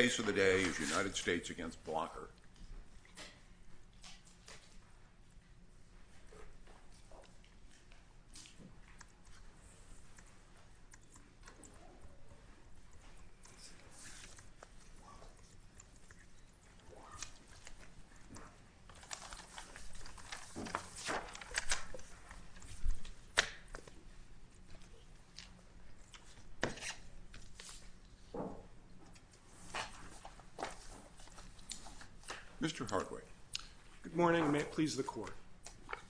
The case of the day is United States v. Blocker.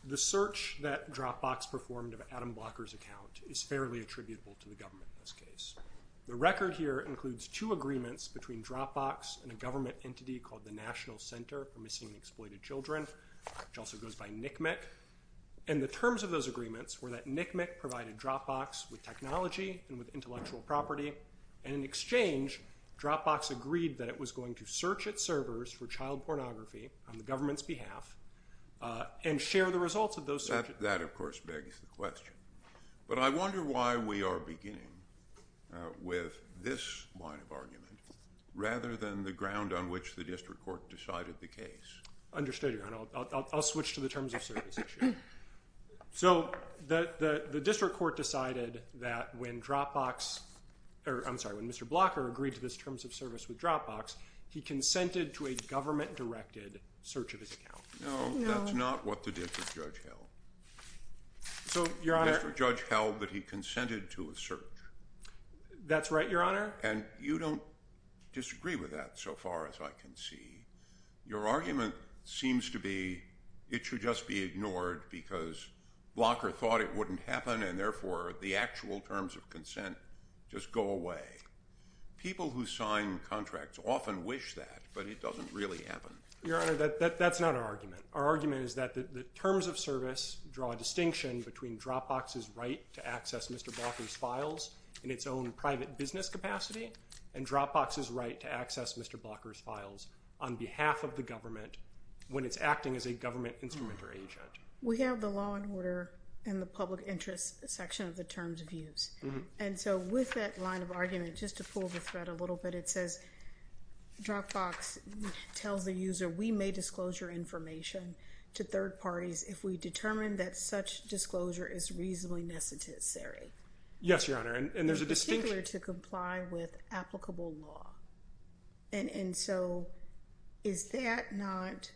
The search that Dropbox performed of Adam Blocker's account is fairly attributable to the government in this case. The record here includes two agreements between Dropbox and a government entity called the National Center for Missing and Exploited Children, which also goes by NCMEC. And the terms of those agreements were that NCMEC provided Dropbox with technology and with intellectual property, and in exchange, Dropbox agreed that it was going to search its servers for child pornography on the government's behalf and share the results of those searches. That, of course, begs the question. But I wonder why we are beginning with this line of argument rather than the ground on which the district court decided the case. Understood, Your Honor. I'll switch to the terms of service issue. So the district court decided that when Mr. Blocker agreed to this terms of service with Dropbox, he consented to a government-directed search of his account. No, that's not what the district judge held. So Mr. Judge held that he consented to a search. That's right, Your Honor. And you don't disagree with that so far as I can see. Your argument seems to be it should just be ignored because Blocker thought it wouldn't happen and therefore the actual terms of consent just go away. People who sign contracts often wish that, but it doesn't really happen. Your Honor, that's not our argument. Our argument is that the terms of service draw a distinction between Dropbox's right to access Mr. Blocker's files in its own private business capacity and Dropbox's right to access Mr. Blocker's files on behalf of the government when it's acting as a government instrument or agent. We have the law and order in the public interest section of the terms of use. And so with that line of argument, just to pull the thread a little bit, it says Dropbox tells the user, we may disclose your information to third parties if we determine that such disclosure is reasonably necessary. Yes, Your Honor. It's particular to comply with applicable law. And so is that not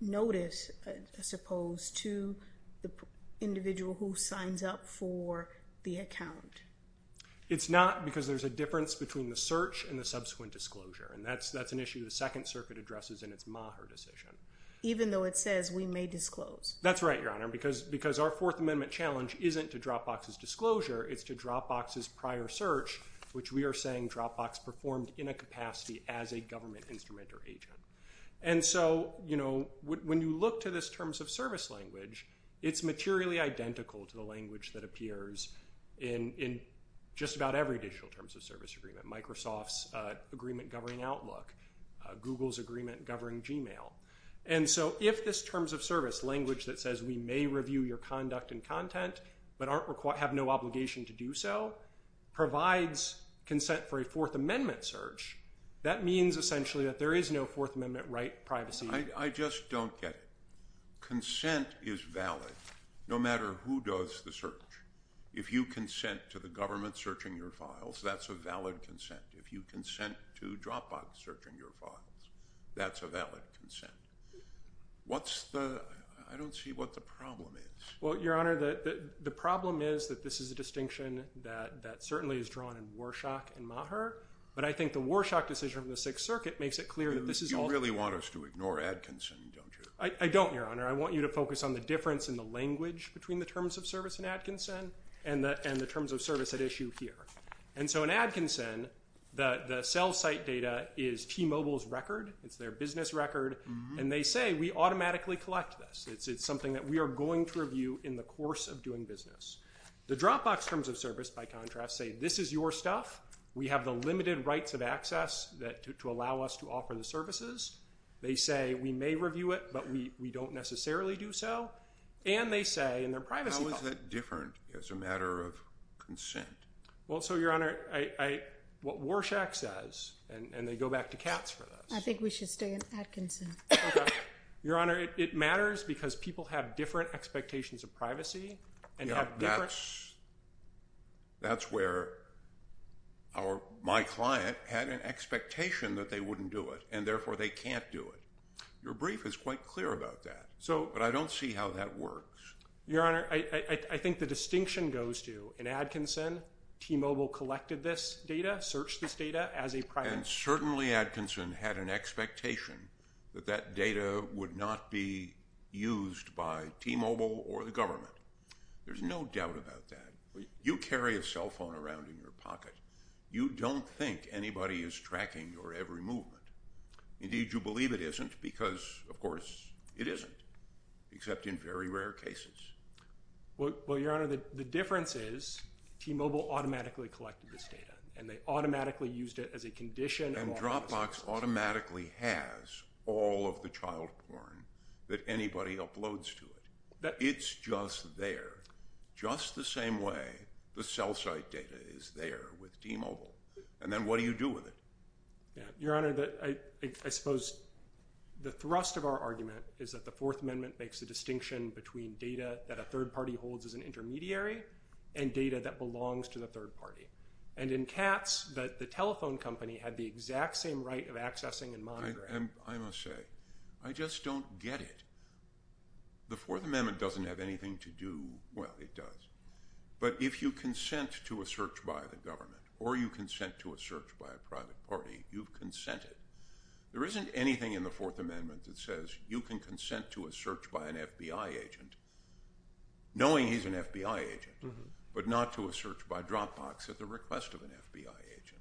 notice, I suppose, to the individual who signs up for the account? It's not because there's a difference between the search and the subsequent disclosure. And that's an issue the Second Circuit addresses in its Maher decision. Even though it says we may disclose. That's right, Your Honor, because our Fourth Amendment challenge isn't to Dropbox's disclosure. It's to Dropbox's prior search, which we are saying Dropbox performed in a capacity as a government instrument or agent. And so, you know, when you look to this terms of service language, it's materially identical to the language that appears in just about every digital terms of service agreement. Microsoft's agreement governing Outlook, Google's agreement governing Gmail. And so if this terms of service language that says we may review your conduct and content but have no obligation to do so, provides consent for a Fourth Amendment search, that means essentially that there is no Fourth Amendment right privacy. I just don't get it. Consent is valid no matter who does the search. If you consent to the government searching your files, that's a valid consent. If you consent to Dropbox searching your files, that's a valid consent. What's the, I don't see what the problem is. Well, Your Honor, the problem is that this is a distinction that certainly is drawn in Warshak and Maher, but I think the Warshak decision of the Sixth Circuit makes it clear that this is all- You really want us to ignore Adkinson, don't you? I don't, Your Honor. I want you to focus on the difference in the language between the terms of service in Adkinson and the terms of service at issue here. And so in Adkinson, the cell site data is T-Mobile's record. It's their business record. And they say we automatically collect this. It's something that we are going to review in the course of doing business. The Dropbox terms of service, by contrast, say this is your stuff. We have the limited rights of access to allow us to offer the services. They say we may review it, but we don't necessarily do so. And they say in their privacy- How is that different as a matter of consent? Well, so, Your Honor, what Warshak says, and they go back to Katz for this- I think we should stay at Adkinson. Okay. Your Honor, it matters because people have different expectations of privacy and have different- Yeah, that's where my client had an expectation that they wouldn't do it, and therefore they can't do it. Your brief is quite clear about that, but I don't see how that works. Your Honor, I think the distinction goes to, in Adkinson, T-Mobile collected this data, searched this data as a private- And certainly Adkinson had an expectation that that data would not be used by T-Mobile or the government. There's no doubt about that. You carry a cell phone around in your pocket. You don't think anybody is tracking your every movement. Indeed, you believe it isn't because, of course, it isn't, except in very rare cases. Well, Your Honor, the difference is T-Mobile automatically collected this data, and they automatically used it as a condition- And Dropbox automatically has all of the child porn that anybody uploads to it. It's just there, just the same way the cell site data is there with T-Mobile. And then what do you do with it? Your Honor, I suppose the thrust of our argument is that the Fourth Amendment makes a distinction between data that a third party holds as an intermediary and data that belongs to the third party. And in Katz, the telephone company had the exact same right of accessing and monitoring- I must say, I just don't get it. The Fourth Amendment doesn't have anything to do- well, it does. But if you consent to a search by the government or you consent to a search by a private party, you've consented. There isn't anything in the Fourth Amendment that says you can consent to a search by an the request of an FBI agent.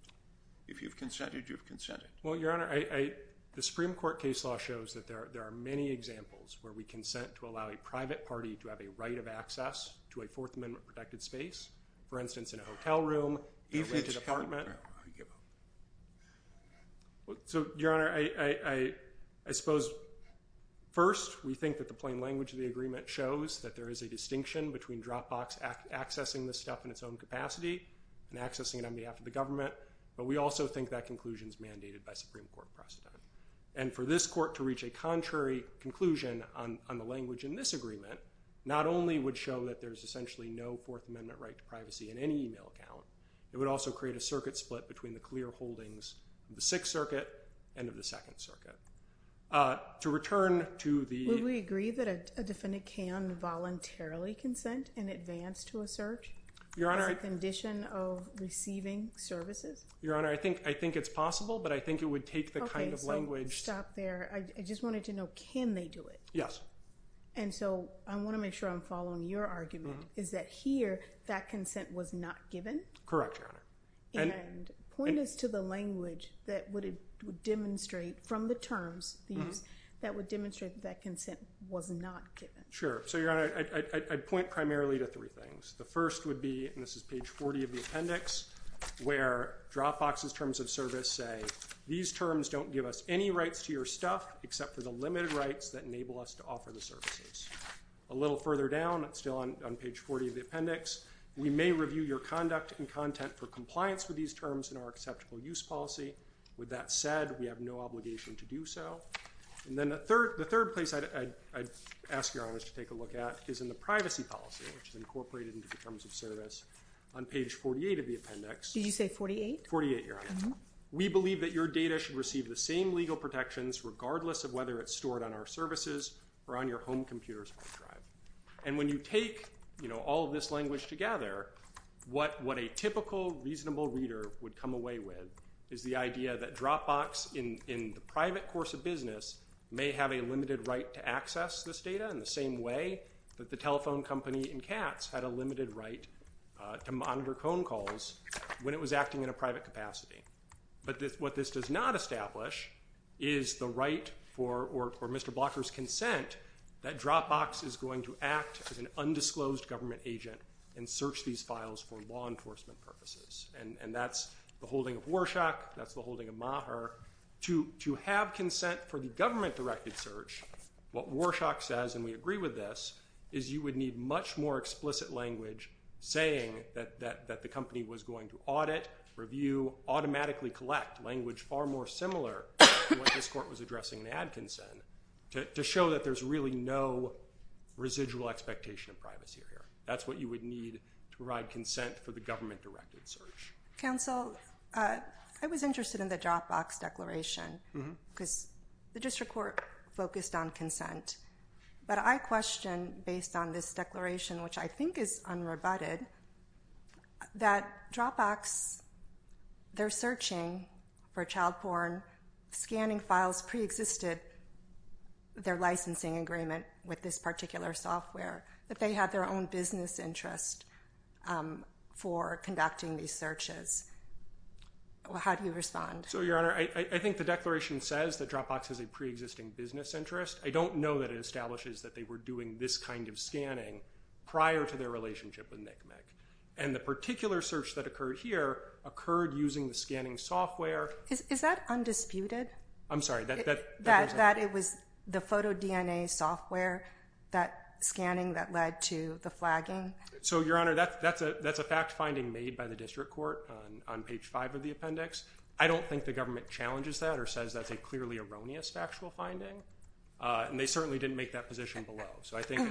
If you've consented, you've consented. Well, Your Honor, the Supreme Court case law shows that there are many examples where we consent to allow a private party to have a right of access to a Fourth Amendment protected space. For instance, in a hotel room, a rented apartment. So Your Honor, I suppose first, we think that the plain language of the agreement shows that there is a distinction between Dropbox accessing this stuff in its own capacity and accessing it on behalf of the government, but we also think that conclusion is mandated by Supreme Court precedent. And for this court to reach a contrary conclusion on the language in this agreement, not only would show that there's essentially no Fourth Amendment right to privacy in any email account, it would also create a circuit split between the clear holdings of the Sixth Circuit and of the Second Circuit. To return to the... Would we agree that a defendant can voluntarily consent in advance to a search? Your Honor... As a condition of receiving services? Your Honor, I think it's possible, but I think it would take the kind of language... Okay, so stop there. I just wanted to know, can they do it? Yes. And so I want to make sure I'm following your argument, is that here, that consent was not given? Correct, Your Honor. And point us to the language that would demonstrate from the terms that would demonstrate that consent was not given. So, Your Honor, I'd point primarily to three things. The first would be, and this is page 40 of the appendix, where Dropbox's terms of service say these terms don't give us any rights to your stuff except for the limited rights that enable us to offer the services. A little further down, it's still on page 40 of the appendix, we may review your conduct and content for compliance with these terms in our acceptable use policy. With that said, we have no obligation to do so. And then the third place I'd ask Your Honor to take a look at is in the privacy policy, which is incorporated into the terms of service on page 48 of the appendix. Did you say 48? 48, Your Honor. We believe that your data should receive the same legal protections regardless of whether it's stored on our services or on your home computer's hard drive. And when you take, you know, all of this language together, what a typical reasonable reader would come away with is the idea that Dropbox in the private course of business may have a limited right to access this data in the same way that the telephone company in Katz had a limited right to monitor phone calls when it was acting in a private capacity. But what this does not establish is the right for, or Mr. Blocker's consent, that Dropbox is going to act as an undisclosed government agent and search these files for law enforcement purposes. And that's the holding of Warshak, that's the holding of Maher. To have consent for the government-directed search, what Warshak says, and we agree with this, is you would need much more explicit language saying that the company was going to audit, review, automatically collect language far more similar to what this court was addressing in ad consent, to show that there's really no residual expectation of privacy here. That's what you would need to provide consent for the government-directed search. Counsel, I was interested in the Dropbox declaration because the district court focused on consent. But I question, based on this declaration, which I think is unrebutted, that Dropbox, they're searching for child porn, scanning files pre-existed their licensing agreement with this particular software, that they had their own business interest for conducting these searches. How do you respond? So Your Honor, I think the declaration says that Dropbox has a pre-existing business interest. I don't know that it establishes that they were doing this kind of scanning prior to their relationship with NCMEC. And the particular search that occurred here occurred using the scanning software. Is that undisputed? I'm sorry. That it was the photo DNA software, that scanning that led to the flagging? So Your Honor, that's a fact finding made by the district court on page 5 of the appendix. I don't think the government challenges that or says that's a clearly erroneous factual finding. And they certainly didn't make that position below. So I think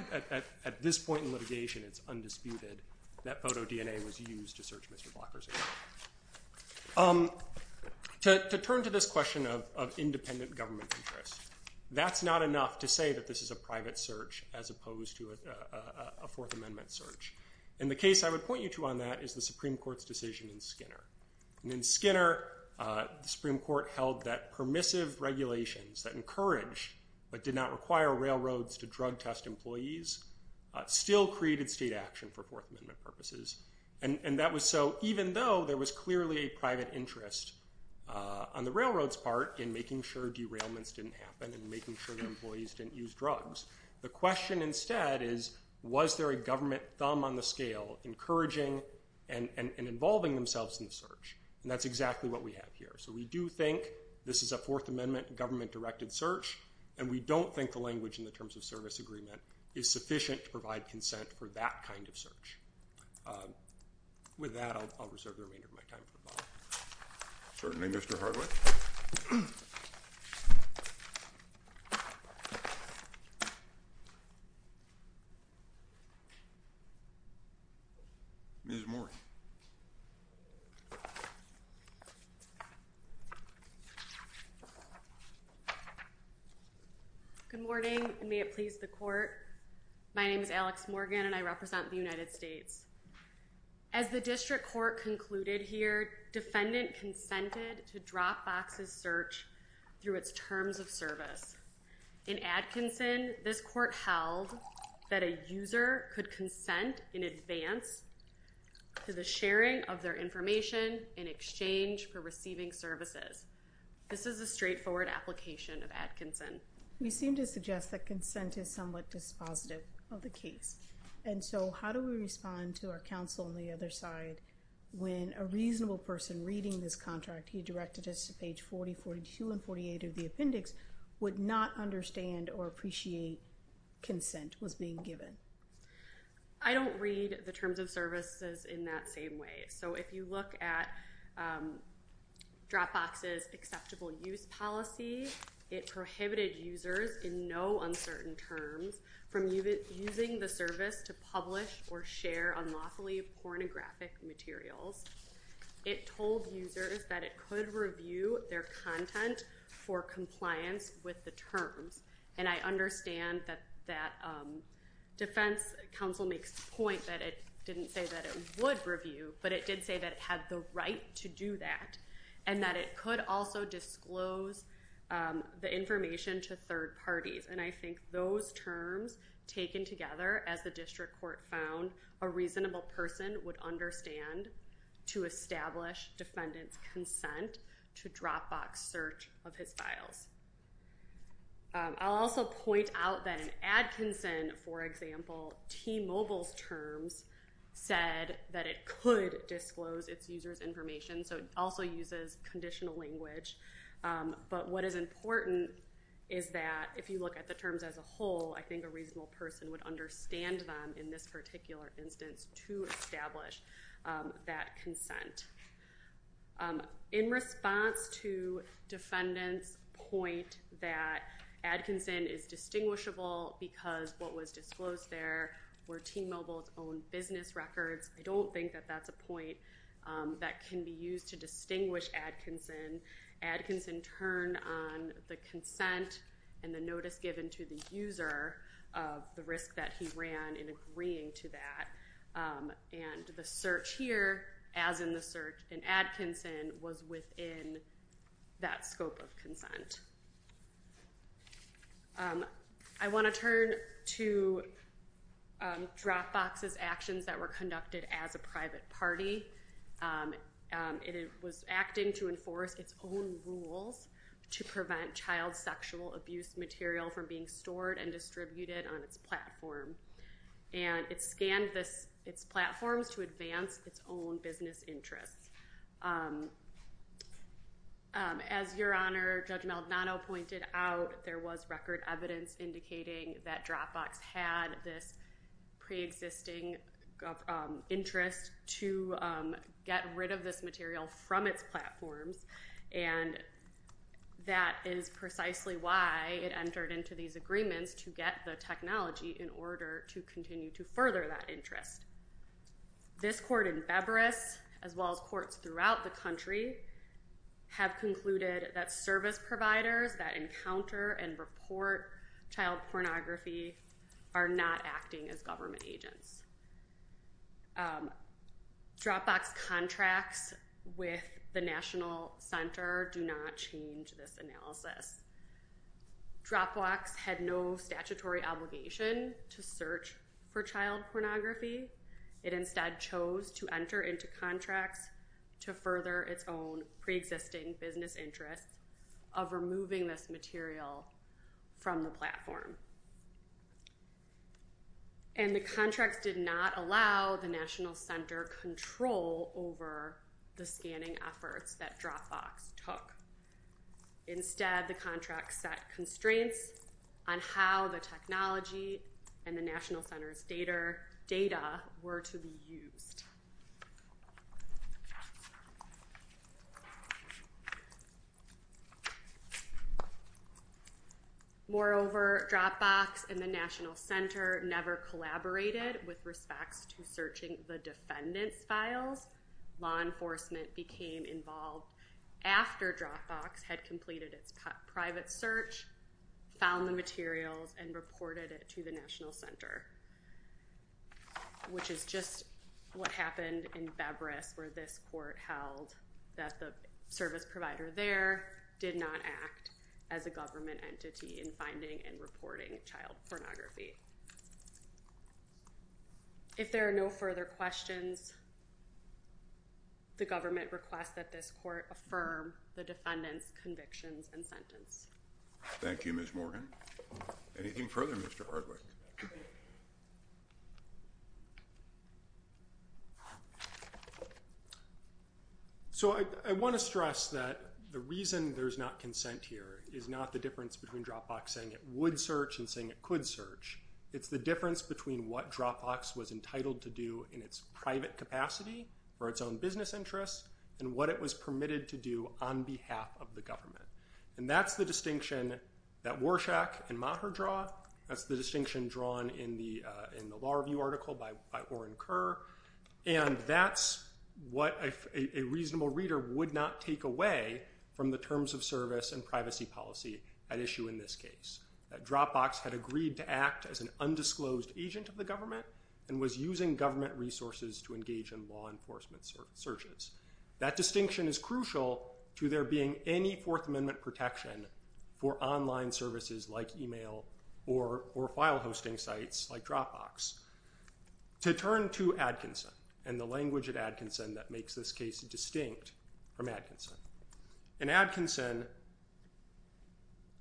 at this point in litigation, it's undisputed that photo DNA was used to search Mr. Blocker's account. To turn to this question of independent government interest. That's not enough to say that this is a private search as opposed to a Fourth Amendment search. And the case I would point you to on that is the Supreme Court's decision in Skinner. And in Skinner, the Supreme Court held that permissive regulations that encourage but did not require railroads to drug test employees still created state action for Fourth Amendment purposes. And that was so even though there was clearly a private interest on the railroad's part in making sure derailments didn't happen and making sure that employees didn't use drugs. The question instead is, was there a government thumb on the scale encouraging and involving themselves in the search? And that's exactly what we have here. So we do think this is a Fourth Amendment government-directed search. And we don't think the language in the Terms of Service Agreement is sufficient to provide consent for that kind of search. With that, I'll reserve the remainder of my time for Bob. Certainly, Mr. Hardwick. Ms. Moore. Good morning, and may it please the Court. My name is Alex Morgan, and I represent the United States. As the district court concluded here, defendant consented to drop boxes search through its terms of service. In Atkinson, this court held that a user could consent in advance to the sharing of their services. This is a straightforward application of Adkinson. We seem to suggest that consent is somewhat dispositive of the case. And so how do we respond to our counsel on the other side when a reasonable person reading this contract he directed us to page 40, 42, and 48 of the appendix would not understand or appreciate consent was being given? I don't read the terms of services in that same way. So if you look at Dropbox's acceptable use policy, it prohibited users in no uncertain terms from using the service to publish or share unlawfully pornographic materials. It told users that it could review their content for compliance with the terms. And I understand that that defense counsel makes the point that it didn't say that it could review, but it did say that it had the right to do that and that it could also disclose the information to third parties. And I think those terms taken together as the district court found a reasonable person would understand to establish defendant's consent to Dropbox search of his files. I'll also point out that in Atkinson, for example, T-Mobile's terms said that it could disclose its user's information, so it also uses conditional language. But what is important is that if you look at the terms as a whole, I think a reasonable person would understand them in this particular instance to establish that consent. In response to defendant's point that Atkinson is distinguishable because what was disclosed there were T-Mobile's own business records, I don't think that that's a point that can be used to distinguish Atkinson. Atkinson turned on the consent and the notice given to the user of the risk that he ran in agreeing to that, and the search here, as in the search in Atkinson, was within that scope of consent. I want to turn to Dropbox's actions that were conducted as a private party. It was acting to enforce its own rules to prevent child sexual abuse material from being stored and distributed on its platform, and it scanned its platforms to advance its own business interests. As Your Honor, Judge Maldonado pointed out, there was record evidence indicating that Dropbox had this preexisting interest to get rid of this material from its platforms, and that is precisely why it entered into these agreements to get the technology in order to continue to further that interest. This court in Beveris, as well as courts throughout the country, have concluded that service providers that encounter and report child pornography are not acting as government agents. Dropbox's contracts with the National Center do not change this analysis. Dropbox had no statutory obligation to search for child pornography. It instead chose to enter into contracts to further its own preexisting business interests of removing this material from the platform. And the contracts did not allow the National Center control over the scanning efforts that Dropbox took. Instead the contracts set constraints on how the technology and the National Center's data were to be used. Moreover, Dropbox and the National Center never collaborated with respects to searching the defendant's files. Law enforcement became involved after Dropbox had completed its private search, found the files, and reported it to the National Center, which is just what happened in Beveris where this court held that the service provider there did not act as a government entity in finding and reporting child pornography. If there are no further questions, the government requests that this court affirm the defendant's convictions and sentence. Thank you, Ms. Morgan. Anything further, Mr. Hardwick? So I want to stress that the reason there's not consent here is not the difference between Dropbox saying it would search and saying it could search. It's the difference between what Dropbox was entitled to do in its private capacity for its own business interests and what it was permitted to do on behalf of the government. And that's the distinction that Warshak and Maher draw. That's the distinction drawn in the Law Review article by Oren Kerr. And that's what a reasonable reader would not take away from the terms of service and privacy policy at issue in this case. That Dropbox had agreed to act as an undisclosed agent of the government and was using government resources to engage in law enforcement searches. That distinction is crucial to there being any Fourth Amendment protection for online services like email or file hosting sites like Dropbox. To turn to Adkinson and the language at Adkinson that makes this case distinct from Adkinson. In Adkinson,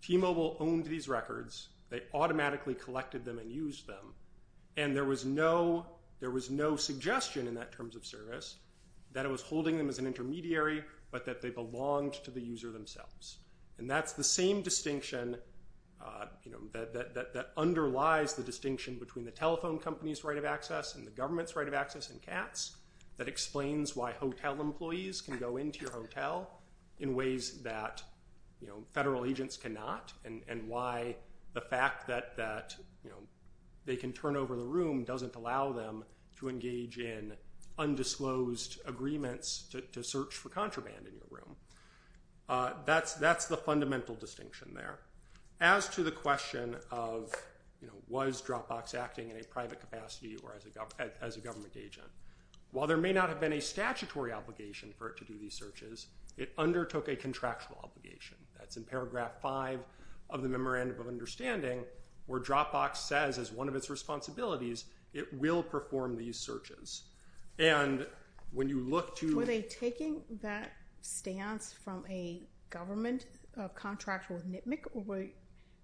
T-Mobile owned these records. They automatically collected them and used them. And there was no suggestion in that terms of service that it was holding them as an intermediary but that they belonged to the user themselves. And that's the same distinction that underlies the distinction between the telephone company's right of access and the government's right of access in CATS that explains why hotel employees can go into your hotel in ways that federal agents cannot and why the fact that they can turn over the room doesn't allow them to engage in undisclosed agreements to search for contraband in your room. That's the fundamental distinction there. As to the question of was Dropbox acting in a private capacity or as a government agent, while there may not have been a statutory obligation for it to do these searches, it undertook a contractual obligation. That's in paragraph 5 of the Memorandum of Understanding where Dropbox says as one of its responsibilities it will perform these searches. And when you look to- Were they taking that stance from a government contract with NCMEC or were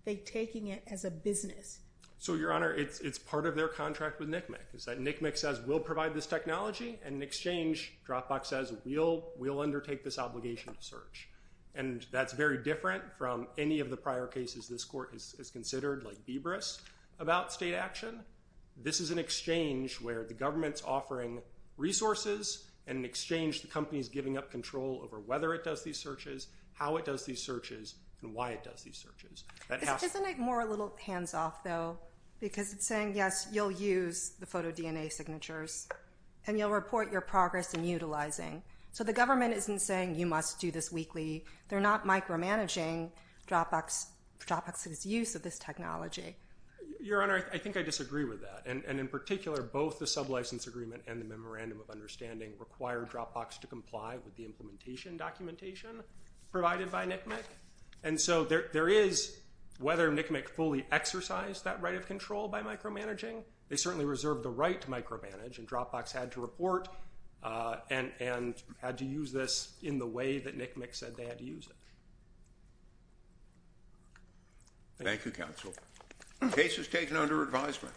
they taking it as a business? So Your Honor, it's part of their contract with NCMEC. NCMEC says we'll provide this technology and in exchange, Dropbox says we'll undertake this obligation to search. And that's very different from any of the prior cases this Court has considered like Beaveris about state action. This is an exchange where the government's offering resources and in exchange the company's giving up control over whether it does these searches, how it does these searches, and why it does these searches. That has- Isn't it more a little hands-off though because it's saying, yes, you'll use the photo-DNA signatures and you'll report your progress in utilizing. So the government isn't saying you must do this weekly. They're not micromanaging Dropbox's use of this technology. Your Honor, I think I disagree with that. And in particular, both the sublicense agreement and the Memorandum of Understanding require Dropbox to comply with the implementation documentation provided by NCMEC. And so there is whether NCMEC fully exercised that right of control by micromanaging. They certainly reserved the right to micromanage and Dropbox had to report and had to use this in the way that NCMEC said they had to use it. Thank you, counsel. The case is taken under advisement.